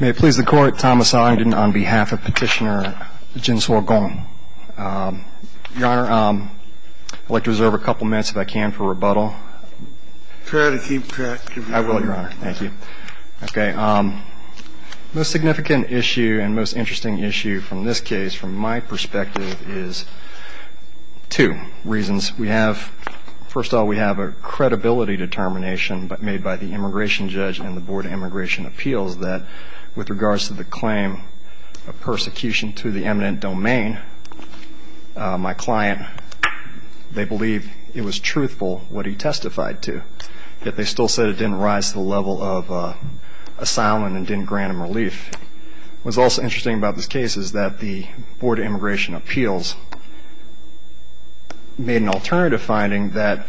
May it please the Court, Thomas Ellington on behalf of Petitioner Jinsuo Gong. Your Honor, I'd like to reserve a couple minutes, if I can, for rebuttal. Try to keep track of your honor. I will, Your Honor. Thank you. Okay, the most significant issue and most interesting issue from this case, from my perspective, is two reasons. We have, first of all, we have a credibility determination made by the immigration judge and the Board of Immigration Appeals that with regards to the claim of persecution to the eminent domain, my client, they believe it was truthful what he testified to. Yet they still said it didn't rise to the level of asylum and didn't grant him relief. What's also interesting about this case is that the Board of Immigration Appeals made an alternative finding that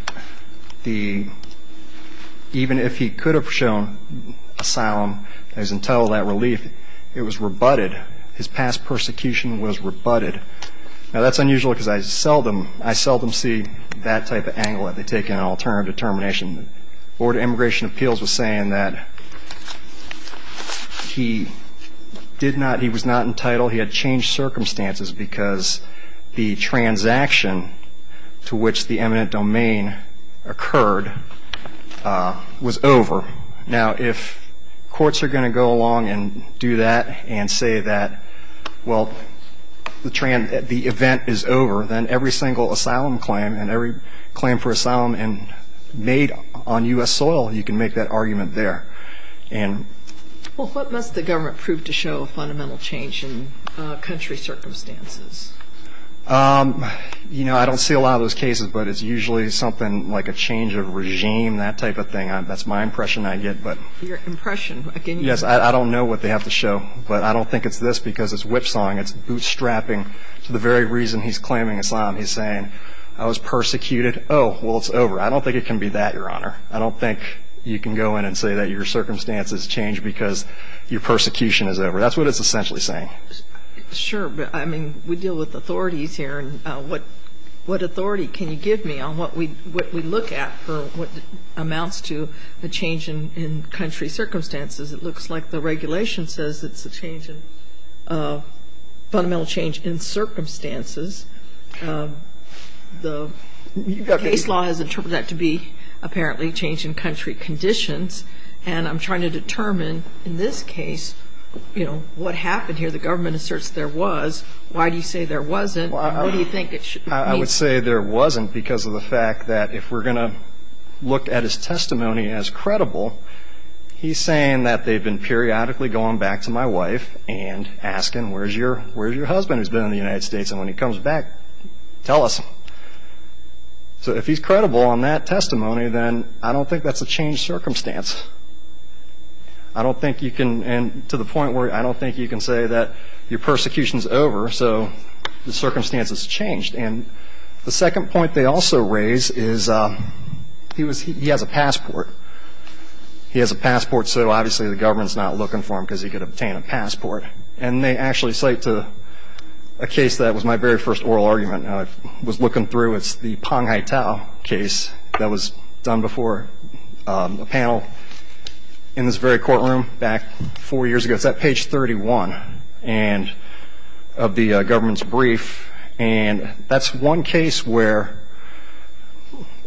even if he could have shown asylum as entitled to that relief, it was rebutted. His past persecution was rebutted. Now that's unusual because I seldom see that type of angle that they take in an alternative determination. The Board of Immigration Appeals was saying that he did not, he was not entitled. He had changed circumstances because the transaction to which the eminent domain occurred was over. Now, if courts are going to go along and do that and say that, well, the event is over, then every single asylum claim and every claim for asylum made on U.S. soil, you can make that argument there. Well, what must the government prove to show a fundamental change in country circumstances? You know, I don't see a lot of those cases, but it's usually something like a change of regime, that type of thing. That's my impression I get. Your impression? Yes, I don't know what they have to show, but I don't think it's this because it's whipsawing. It's bootstrapping to the very reason he's claiming asylum. He's saying, I was persecuted. Oh, well, it's over. I don't think it can be that, Your Honor. I don't think you can go in and say that your circumstances changed because your persecution is over. That's what it's essentially saying. Sure, but, I mean, we deal with authorities here, and what authority can you give me on what we look at for what amounts to a change in country circumstances? It looks like the regulation says it's a change in fundamental change in circumstances. The case law has interpreted that to be apparently change in country conditions, and I'm trying to determine in this case, you know, what happened here. The government asserts there was. Why do you say there wasn't, and what do you think it should mean? I would say there wasn't because of the fact that if we're going to look at his testimony as credible, he's saying that they've been periodically going back to my wife and asking, where's your husband who's been in the United States? And when he comes back, tell us. So if he's credible on that testimony, then I don't think that's a changed circumstance. I don't think you can, and to the point where I don't think you can say that your persecution is over, so the circumstance has changed. And the second point they also raise is he has a passport. He has a passport, so obviously the government's not looking for him because he could obtain a passport. And they actually cite a case that was my very first oral argument. I was looking through. It's the Pong Hightow case that was done before a panel in this very courtroom back four years ago. It's at page 31 of the government's brief, and that's one case where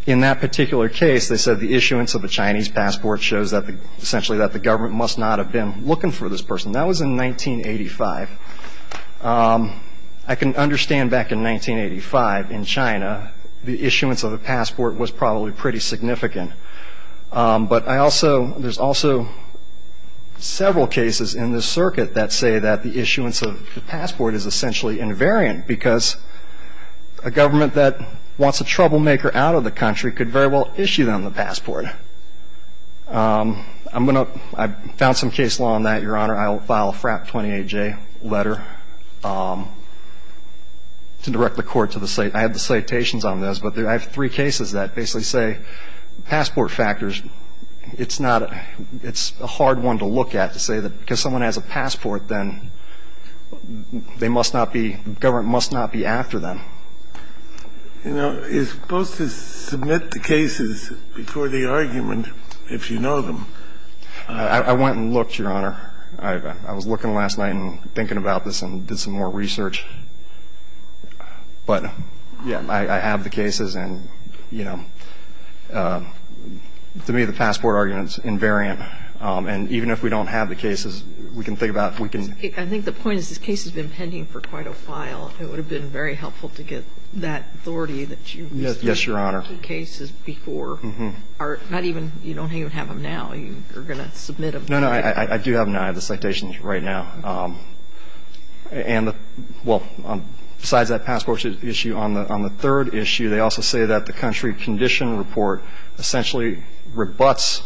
in that particular case they said the issuance of a Chinese passport shows essentially that the government must not have been looking for this person. That was in 1985. I can understand back in 1985 in China the issuance of a passport was probably pretty significant, but I also – there's also several cases in this circuit that say that the issuance of a passport is essentially invariant because a government that wants a troublemaker out of the country could very well issue them the passport. I'm going to – I found some case law on that, Your Honor. I'll file a FRAP 28J letter to direct the Court to the – I have the citations on this, but I have three cases that basically say passport factors, it's not – it's a hard one to look at to say that because someone has a passport, then they must not be – the government must not be after them. You know, you're supposed to submit the cases before the argument if you know them. I went and looked, Your Honor. I was looking last night and thinking about this and did some more research. But, yeah, I have the cases, and, you know, to me, the passport argument is invariant. And even if we don't have the cases, we can think about – we can – I think the point is this case has been pending for quite a while. It would have been very helpful to get that authority that you – Yes, Your Honor. – cases before. Mm-hmm. Not even – you don't even have them now. You're going to submit them. No, no. I do have them now. I have the citations right now. And the – well, besides that passport issue, on the third issue, they also say that the country condition report essentially rebuts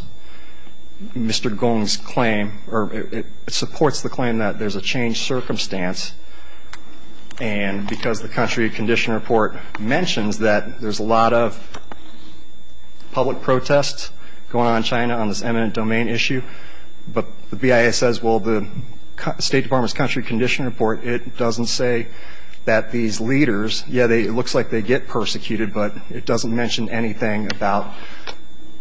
Mr. Gong's claim or it supports the claim that there's a changed circumstance. And because the country condition report mentions that there's a lot of public protests going on in China on this eminent domain issue, but the BIA says, well, the State Department's country condition report, it doesn't say that these leaders – yeah, it looks like they get persecuted, but it doesn't mention anything about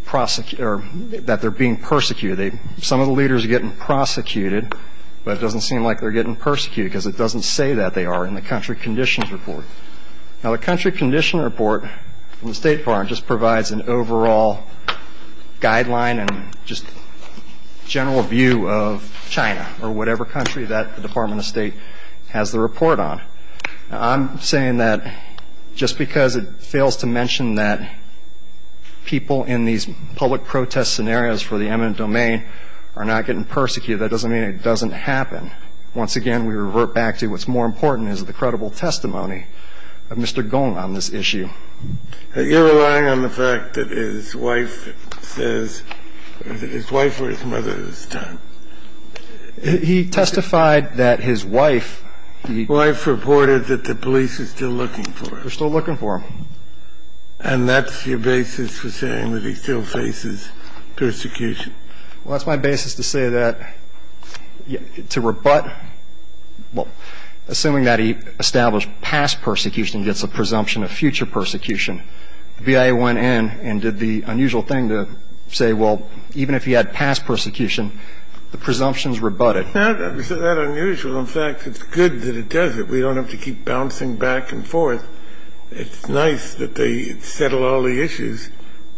that they're being persecuted. Some of the leaders are getting prosecuted, but it doesn't seem like they're getting persecuted because it doesn't say that they are in the country condition report. Now, the country condition report from the State Department just provides an overall guideline and just general view of China or whatever country that the Department of State has the report on. Now, I'm saying that just because it fails to mention that people in these public protest scenarios for the eminent domain are not getting persecuted, that doesn't mean it doesn't happen. Once again, we revert back to what's more important is the credible testimony of Mr. Gong on this issue. You're relying on the fact that his wife says – is it his wife or his mother this time? He testified that his wife – His wife reported that the police are still looking for him. They're still looking for him. And that's your basis for saying that he still faces persecution? Well, that's my basis to say that – to rebut – well, that's a presumption of future persecution. The BIA went in and did the unusual thing to say, well, even if he had past persecution, the presumption's rebutted. Isn't that unusual? In fact, it's good that it does it. We don't have to keep bouncing back and forth. It's nice that they settle all the issues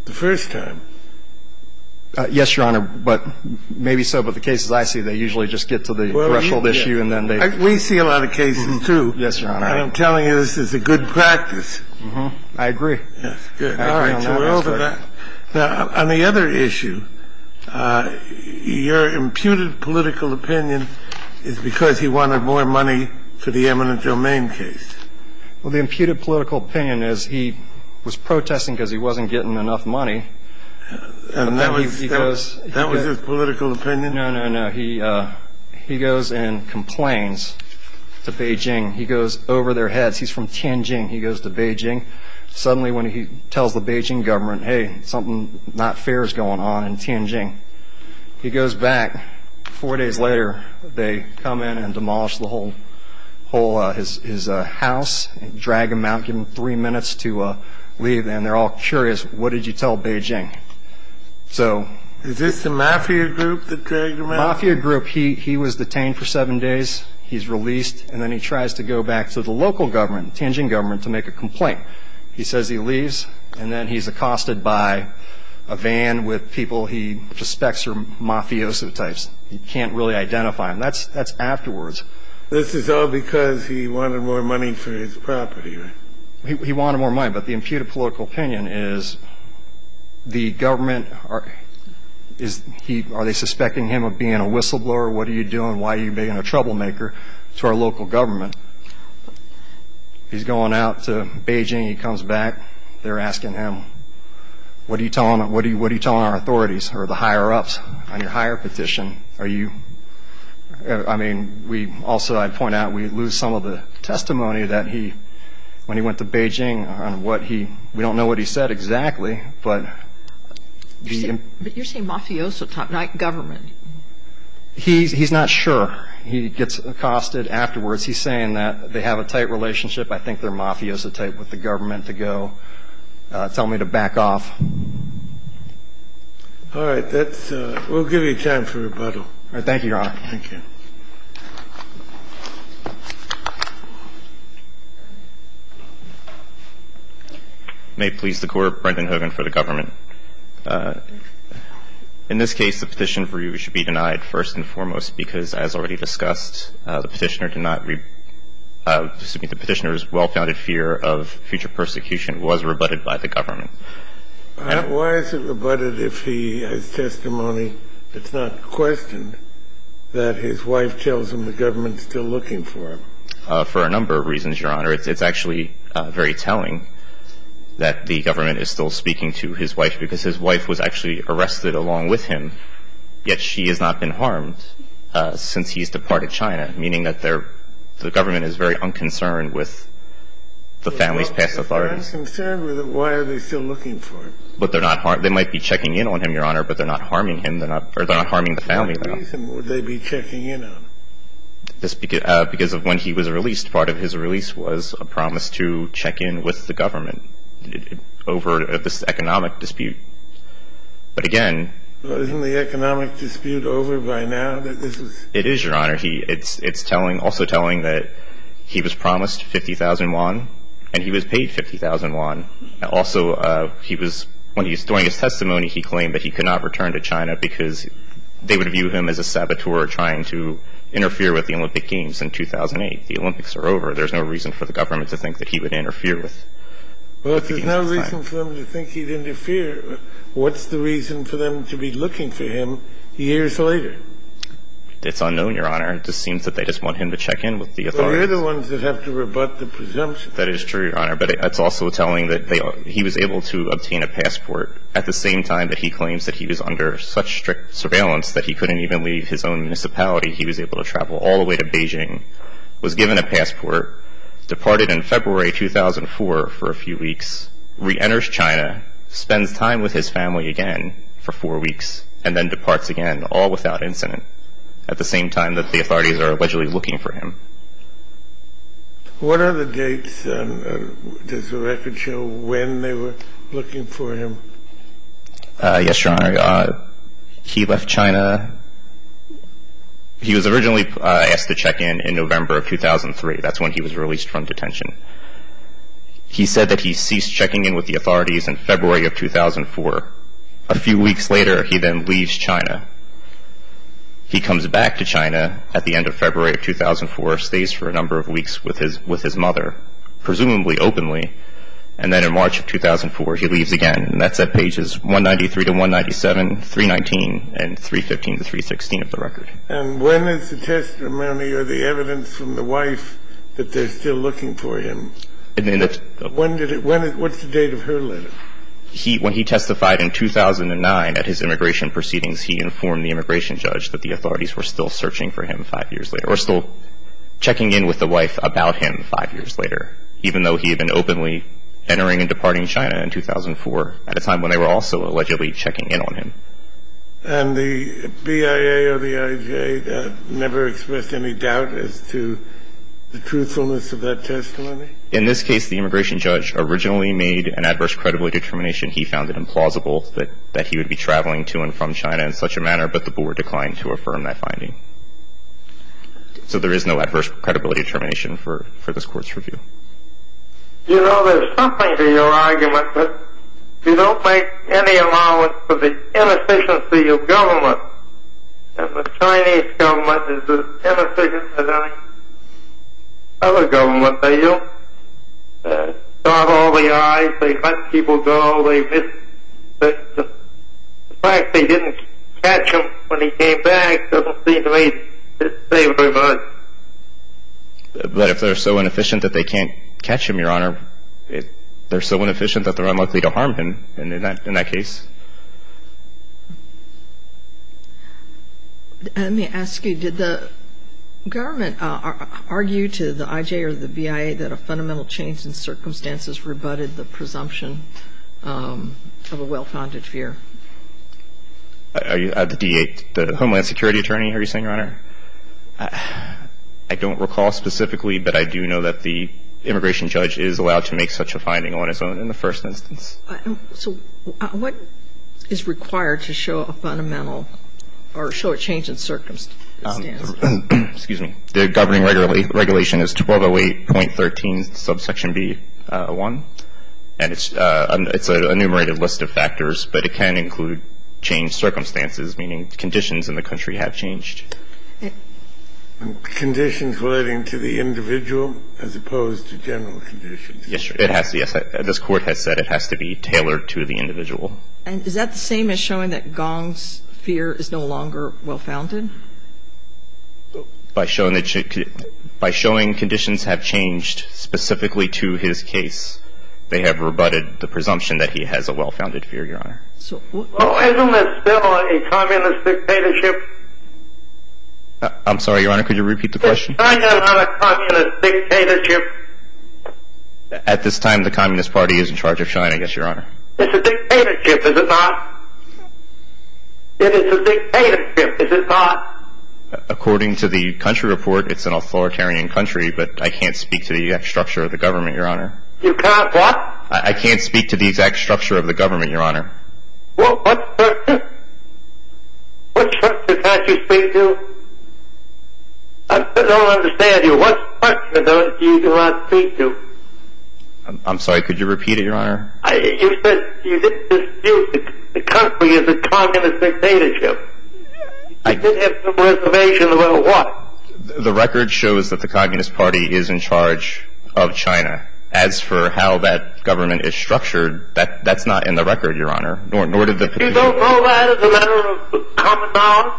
the first time. Yes, Your Honor, but maybe so. But the cases I see, they usually just get to the threshold issue and then they – We see a lot of cases, too. Yes, Your Honor. And I'm telling you this is a good practice. I agree. Yes, good. All right, so we're over that. Now, on the other issue, your imputed political opinion is because he wanted more money for the eminent domain case. Well, the imputed political opinion is he was protesting because he wasn't getting enough money. And that was his political opinion? No, no, no. He goes and complains to Beijing. He goes over their heads. He's from Tianjin. He goes to Beijing. Suddenly, when he tells the Beijing government, hey, something not fair is going on in Tianjin, he goes back. Four days later, they come in and demolish the whole – his house, drag him out, give him three minutes to leave, and they're all curious, what did you tell Beijing? So – Is this the mafia group that dragged him out? Mafia group. He was detained for seven days. He's released, and then he tries to go back to the local government, Tianjin government, to make a complaint. He says he leaves, and then he's accosted by a van with people he suspects are mafioso types. He can't really identify them. That's afterwards. This is all because he wanted more money for his property, right? He wanted more money. But the imputed political opinion is the government – are they suspecting him of being a whistleblower? What are you doing? Why are you being a troublemaker to our local government? He's going out to Beijing. He comes back. They're asking him, what are you telling our authorities or the higher-ups on your hire petition? Are you – I mean, we also – I'd point out we lose some of the testimony that he – when he went to Beijing on what he – we don't know what he said exactly, but the – But you're saying mafioso type, not government. He's not sure. He gets accosted afterwards. He's saying that they have a tight relationship. I think they're mafioso type with the government to go tell me to back off. All right. That's – we'll give you time for rebuttal. All right. Thank you, Your Honor. Thank you. May it please the Court, Brendan Hogan for the government. In this case, the petition for you should be denied first and foremost because, as already discussed, the petitioner did not – excuse me, the petitioner's well-founded fear of future persecution was rebutted by the government. Why is it rebutted if he has testimony that's not questioned that his wife tells him the government's still looking for him? For a number of reasons, Your Honor. It's actually very telling that the government is still speaking to his wife because his wife was actually arrested along with him, yet she has not been harmed since he's departed China, meaning that the government is very unconcerned with the family's past authority. If they're not concerned with it, why are they still looking for him? But they're not – they might be checking in on him, Your Honor, but they're not harming him. They're not – or they're not harming the family, Your Honor. What reason would they be checking in on him? Because of when he was released, part of his release was a promise to check in with the government over this economic dispute. But again – Isn't the economic dispute over by now? It is, Your Honor. It's telling – also telling that he was promised 50,000 yuan and he was paid 50,000 yuan. Also, he was – when he was throwing his testimony, he claimed that he could not return to China because they would view him as a saboteur trying to interfere with the Olympic Games in 2008. The Olympics are over. There's no reason for the government to think that he would interfere with the Games. Well, if there's no reason for them to think he'd interfere, what's the reason for them to be looking for him years later? It's unknown, Your Honor. It just seems that they just want him to check in with the authorities. Well, you're the ones that have to rebut the presumption. That is true, Your Honor, but it's also telling that he was able to obtain a passport at the same time that he claims that he was under such strict surveillance that he couldn't even leave his own municipality. He was able to travel all the way to Beijing, was given a passport, departed in February 2004 for a few weeks, reenters China, spends time with his family again for four weeks, and then departs again, all without incident, at the same time that the authorities are allegedly looking for him. What are the dates? Does the record show when they were looking for him? Yes, Your Honor. He left China. He was originally asked to check in in November of 2003. That's when he was released from detention. He said that he ceased checking in with the authorities in February of 2004. A few weeks later, he then leaves China. He comes back to China at the end of February of 2004, stays for a number of weeks with his mother, presumably openly, and then in March of 2004, he leaves again. And that set pages 193 to 197, 319, and 315 to 316 of the record. And when is the testimony or the evidence from the wife that they're still looking for him? When did it – what's the date of her letter? When he testified in 2009 at his immigration proceedings, he informed the immigration judge that the authorities were still searching for him five years later or still checking in with the wife about him five years later, even though he had been openly entering and departing China in 2004 at a time when they were also allegedly checking in on him. And the BIA or the IJ never expressed any doubt as to the truthfulness of that testimony? In this case, the immigration judge originally made an adverse credibility determination. He found it implausible that he would be traveling to and from China in such a manner, but the board declined to affirm that finding. So there is no adverse credibility determination for this court's review. You know, there's something to your argument that you don't make any allowance for the inefficiency of government. The Chinese government is as inefficient as any other government. They don't stop all the eyes. They let people go. The fact they didn't catch him when he came back doesn't seem to me to say very much. But if they're so inefficient that they can't catch him, Your Honor, they're so inefficient that they're unlikely to harm him in that case. Let me ask you. Did the government argue to the IJ or the BIA that a fundamental change in circumstances rebutted the presumption of a well-founded fear? I don't recall specifically, but I do know that the immigration judge is allowed to make such a finding on his own in the first instance. So what is required to show a fundamental or show a change in circumstances? Excuse me. The governing regulation is 1208.13 subsection B01, and it's an enumerated list of factors, but it can include changed circumstances, meaning conditions in the country have changed. Conditions relating to the individual as opposed to general conditions? Yes, it has to. This Court has said it has to be tailored to the individual. And is that the same as showing that Gong's fear is no longer well-founded? By showing conditions have changed specifically to his case, they have rebutted the presumption that he has a well-founded fear, Your Honor. So isn't this still a communist dictatorship? I'm sorry, Your Honor. Could you repeat the question? Is China not a communist dictatorship? At this time, the Communist Party is in charge of China, I guess, Your Honor. It's a dictatorship, is it not? It is a dictatorship, is it not? According to the country report, it's an authoritarian country, but I can't speak to the exact structure of the government, Your Honor. You can't what? I can't speak to the exact structure of the government, Your Honor. What structure? What structure can't you speak to? I don't understand you. What structure do you not speak to? I'm sorry. Could you repeat it, Your Honor? You said the country is a communist dictatorship. I did have some information about what? The record shows that the Communist Party is in charge of China. As for how that government is structured, that's not in the record, Your Honor. But you don't know that as a matter of common knowledge?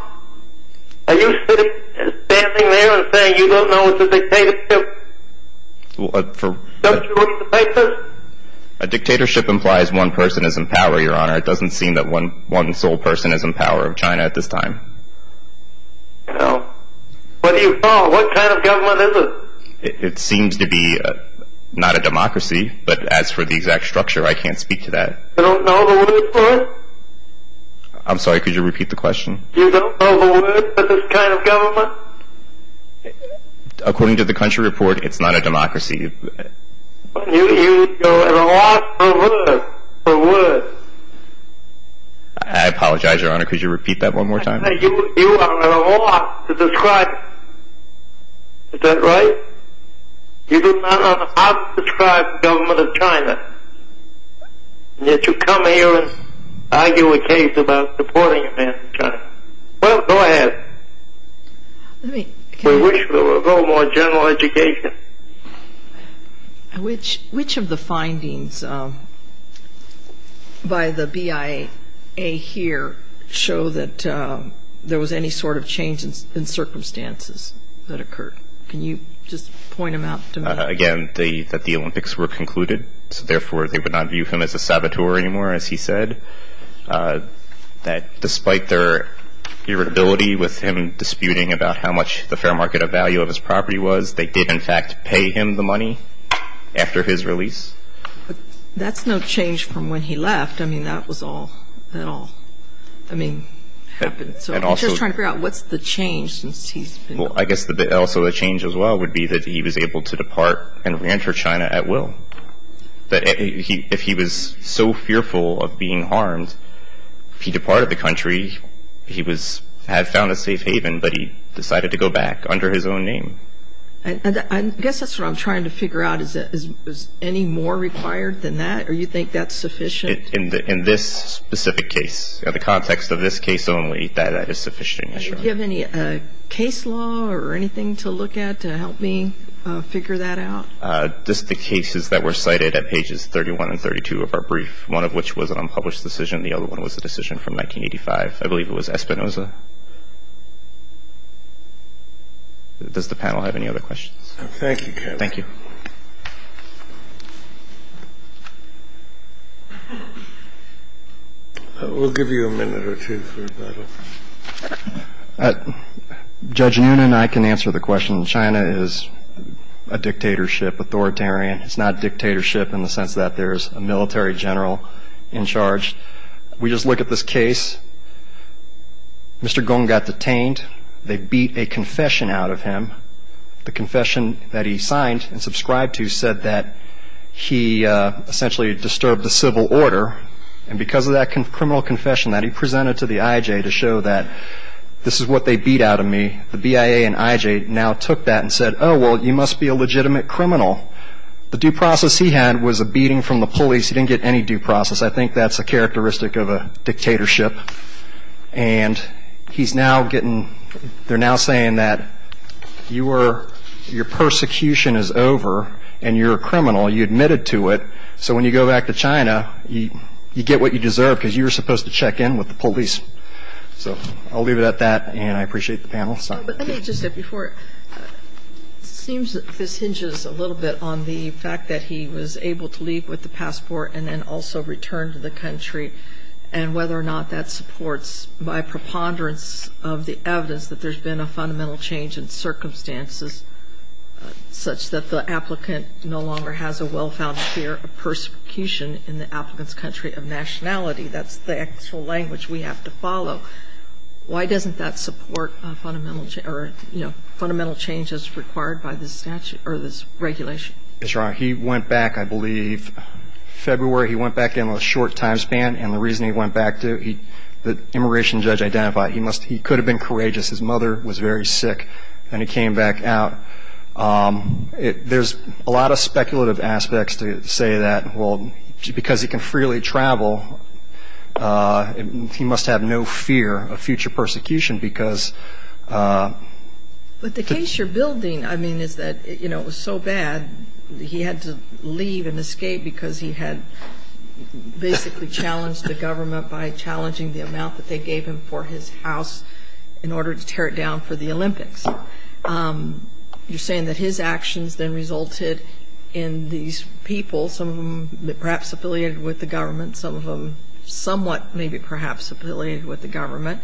Are you standing there and saying you don't know it's a dictatorship? Don't you look at the papers? A dictatorship implies one person is in power, Your Honor. It doesn't seem that one sole person is in power of China at this time. What do you call it? What kind of government is it? It seems to be not a democracy. But as for the exact structure, I can't speak to that. You don't know the word for it? I'm sorry. Could you repeat the question? You don't know the word for this kind of government? According to the country report, it's not a democracy. You're at a loss for words. I apologize, Your Honor. Could you repeat that one more time? You are at a loss to describe it. Is that right? You do not know how to describe the government of China, and yet you come here and argue a case about supporting a man from China. Well, go ahead. We wish there were a little more general education. Which of the findings by the BIA here show that there was any sort of change in circumstances that occurred? Can you just point them out to me? Again, that the Olympics were concluded, so therefore they would not view him as a saboteur anymore, as he said. Despite their irritability with him disputing about how much the fair market value of his property was, they did, in fact, pay him the money after his release. That's no change from when he left. I mean, that was all that all, I mean, happened. So I'm just trying to figure out what's the change since he's been gone. Well, I guess also a change as well would be that he was able to depart and reenter China at will. If he was so fearful of being harmed, if he departed the country, he had found a safe haven, but he decided to go back under his own name. I guess that's what I'm trying to figure out. Is any more required than that, or you think that's sufficient? In this specific case, in the context of this case only, that is sufficient. Do you have any case law or anything to look at to help me figure that out? Just the cases that were cited at pages 31 and 32 of our brief, one of which was an unpublished decision, and the other one was a decision from 1985. I believe it was Espinoza. Does the panel have any other questions? Thank you, Kevin. Thank you. We'll give you a minute or two for that. Judge Noonan and I can answer the question. China is a dictatorship, authoritarian. It's not dictatorship in the sense that there's a military general in charge. We just look at this case. Mr. Gong got detained. They beat a confession out of him. The confession that he signed and subscribed to said that he essentially disturbed the civil order, and because of that criminal confession that he presented to the IJ to show that this is what they beat out of me, the BIA and IJ now took that and said, oh, well, you must be a legitimate criminal. The due process he had was a beating from the police. He didn't get any due process. I think that's a characteristic of a dictatorship. And he's now getting they're now saying that your persecution is over and you're a criminal. You admitted to it. So when you go back to China, you get what you deserve because you were supposed to check in with the police. So I'll leave it at that, and I appreciate the panel. Let me just say before, it seems that this hinges a little bit on the fact that he was able to leave with the passport and then also return to the country and whether or not that supports my preponderance of the evidence that there's been a fundamental change in circumstances such that the applicant no longer has a well-founded fear of persecution in the applicant's country of nationality. That's the actual language we have to follow. Why doesn't that support fundamental changes required by the statute or this regulation? That's right. He went back, I believe, February. He went back in a short time span, and the reason he went back to the immigration judge identified he could have been courageous. His mother was very sick, and he came back out. There's a lot of speculative aspects to say that, well, because he can freely travel, he must have no fear of future persecution because the case you're building, I mean, is that, you know, it was so bad, he had to leave and escape because he had basically challenged the government by challenging the amount that they gave him for his house in order to tear it down for the Olympics. You're saying that his actions then resulted in these people, some of them perhaps affiliated with the government, some of them somewhat maybe perhaps affiliated with the government,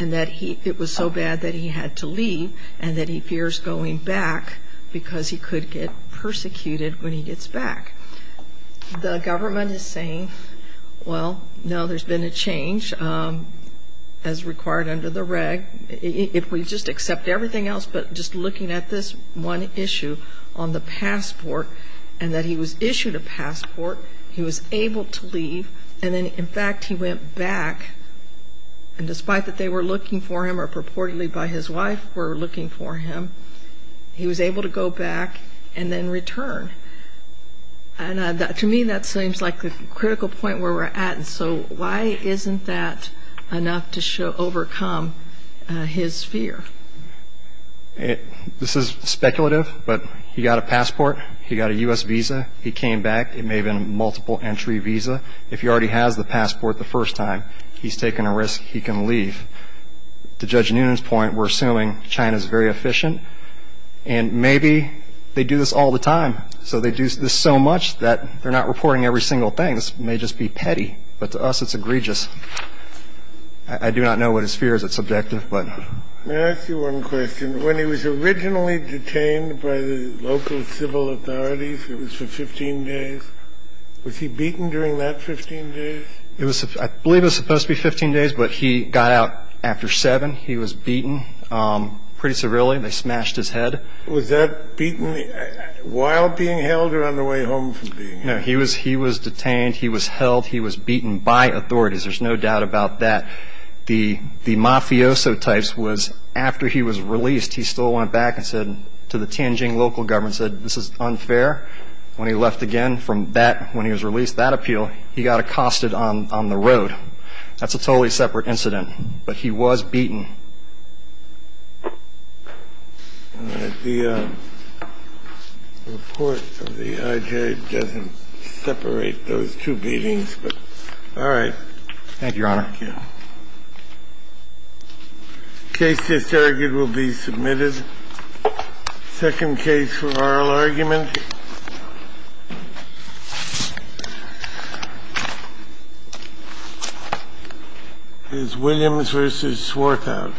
and that it was so bad that he had to leave and that he fears going back because he could get persecuted when he gets back. The government is saying, well, no, there's been a change as required under the reg. If we just accept everything else but just looking at this one issue on the passport and that he was issued a passport, he was able to leave, and then, in fact, he went back, and despite that they were looking for him or purportedly by his wife were looking for him, he was able to go back and then return. To me, that seems like the critical point where we're at. So why isn't that enough to overcome his fear? This is speculative, but he got a passport. He got a U.S. visa. He came back. It may have been a multiple-entry visa. If he already has the passport the first time, he's taking a risk. He can leave. To Judge Noonan's point, we're assuming China's very efficient, and maybe they do this all the time. So they do this so much that they're not reporting every single thing. This may just be petty, but to us it's egregious. I do not know what his fear is. It's subjective. May I ask you one question? When he was originally detained by the local civil authorities, it was for 15 days. Was he beaten during that 15 days? I believe it was supposed to be 15 days, but he got out after seven. He was beaten pretty severely. They smashed his head. Was that beaten while being held or on the way home from being held? No, he was detained. He was held. He was beaten by authorities. There's no doubt about that. The mafioso types was after he was released, he still went back and said to the Tianjin local government, said this is unfair. When he left again from that, when he was released, that appeal, he got accosted on the road. That's a totally separate incident. But he was beaten. The report of the IJ doesn't separate those two beatings, but all right. Thank you, Your Honor. Thank you. Case disargued will be submitted. Second case for oral argument is Williams v. Swarthout.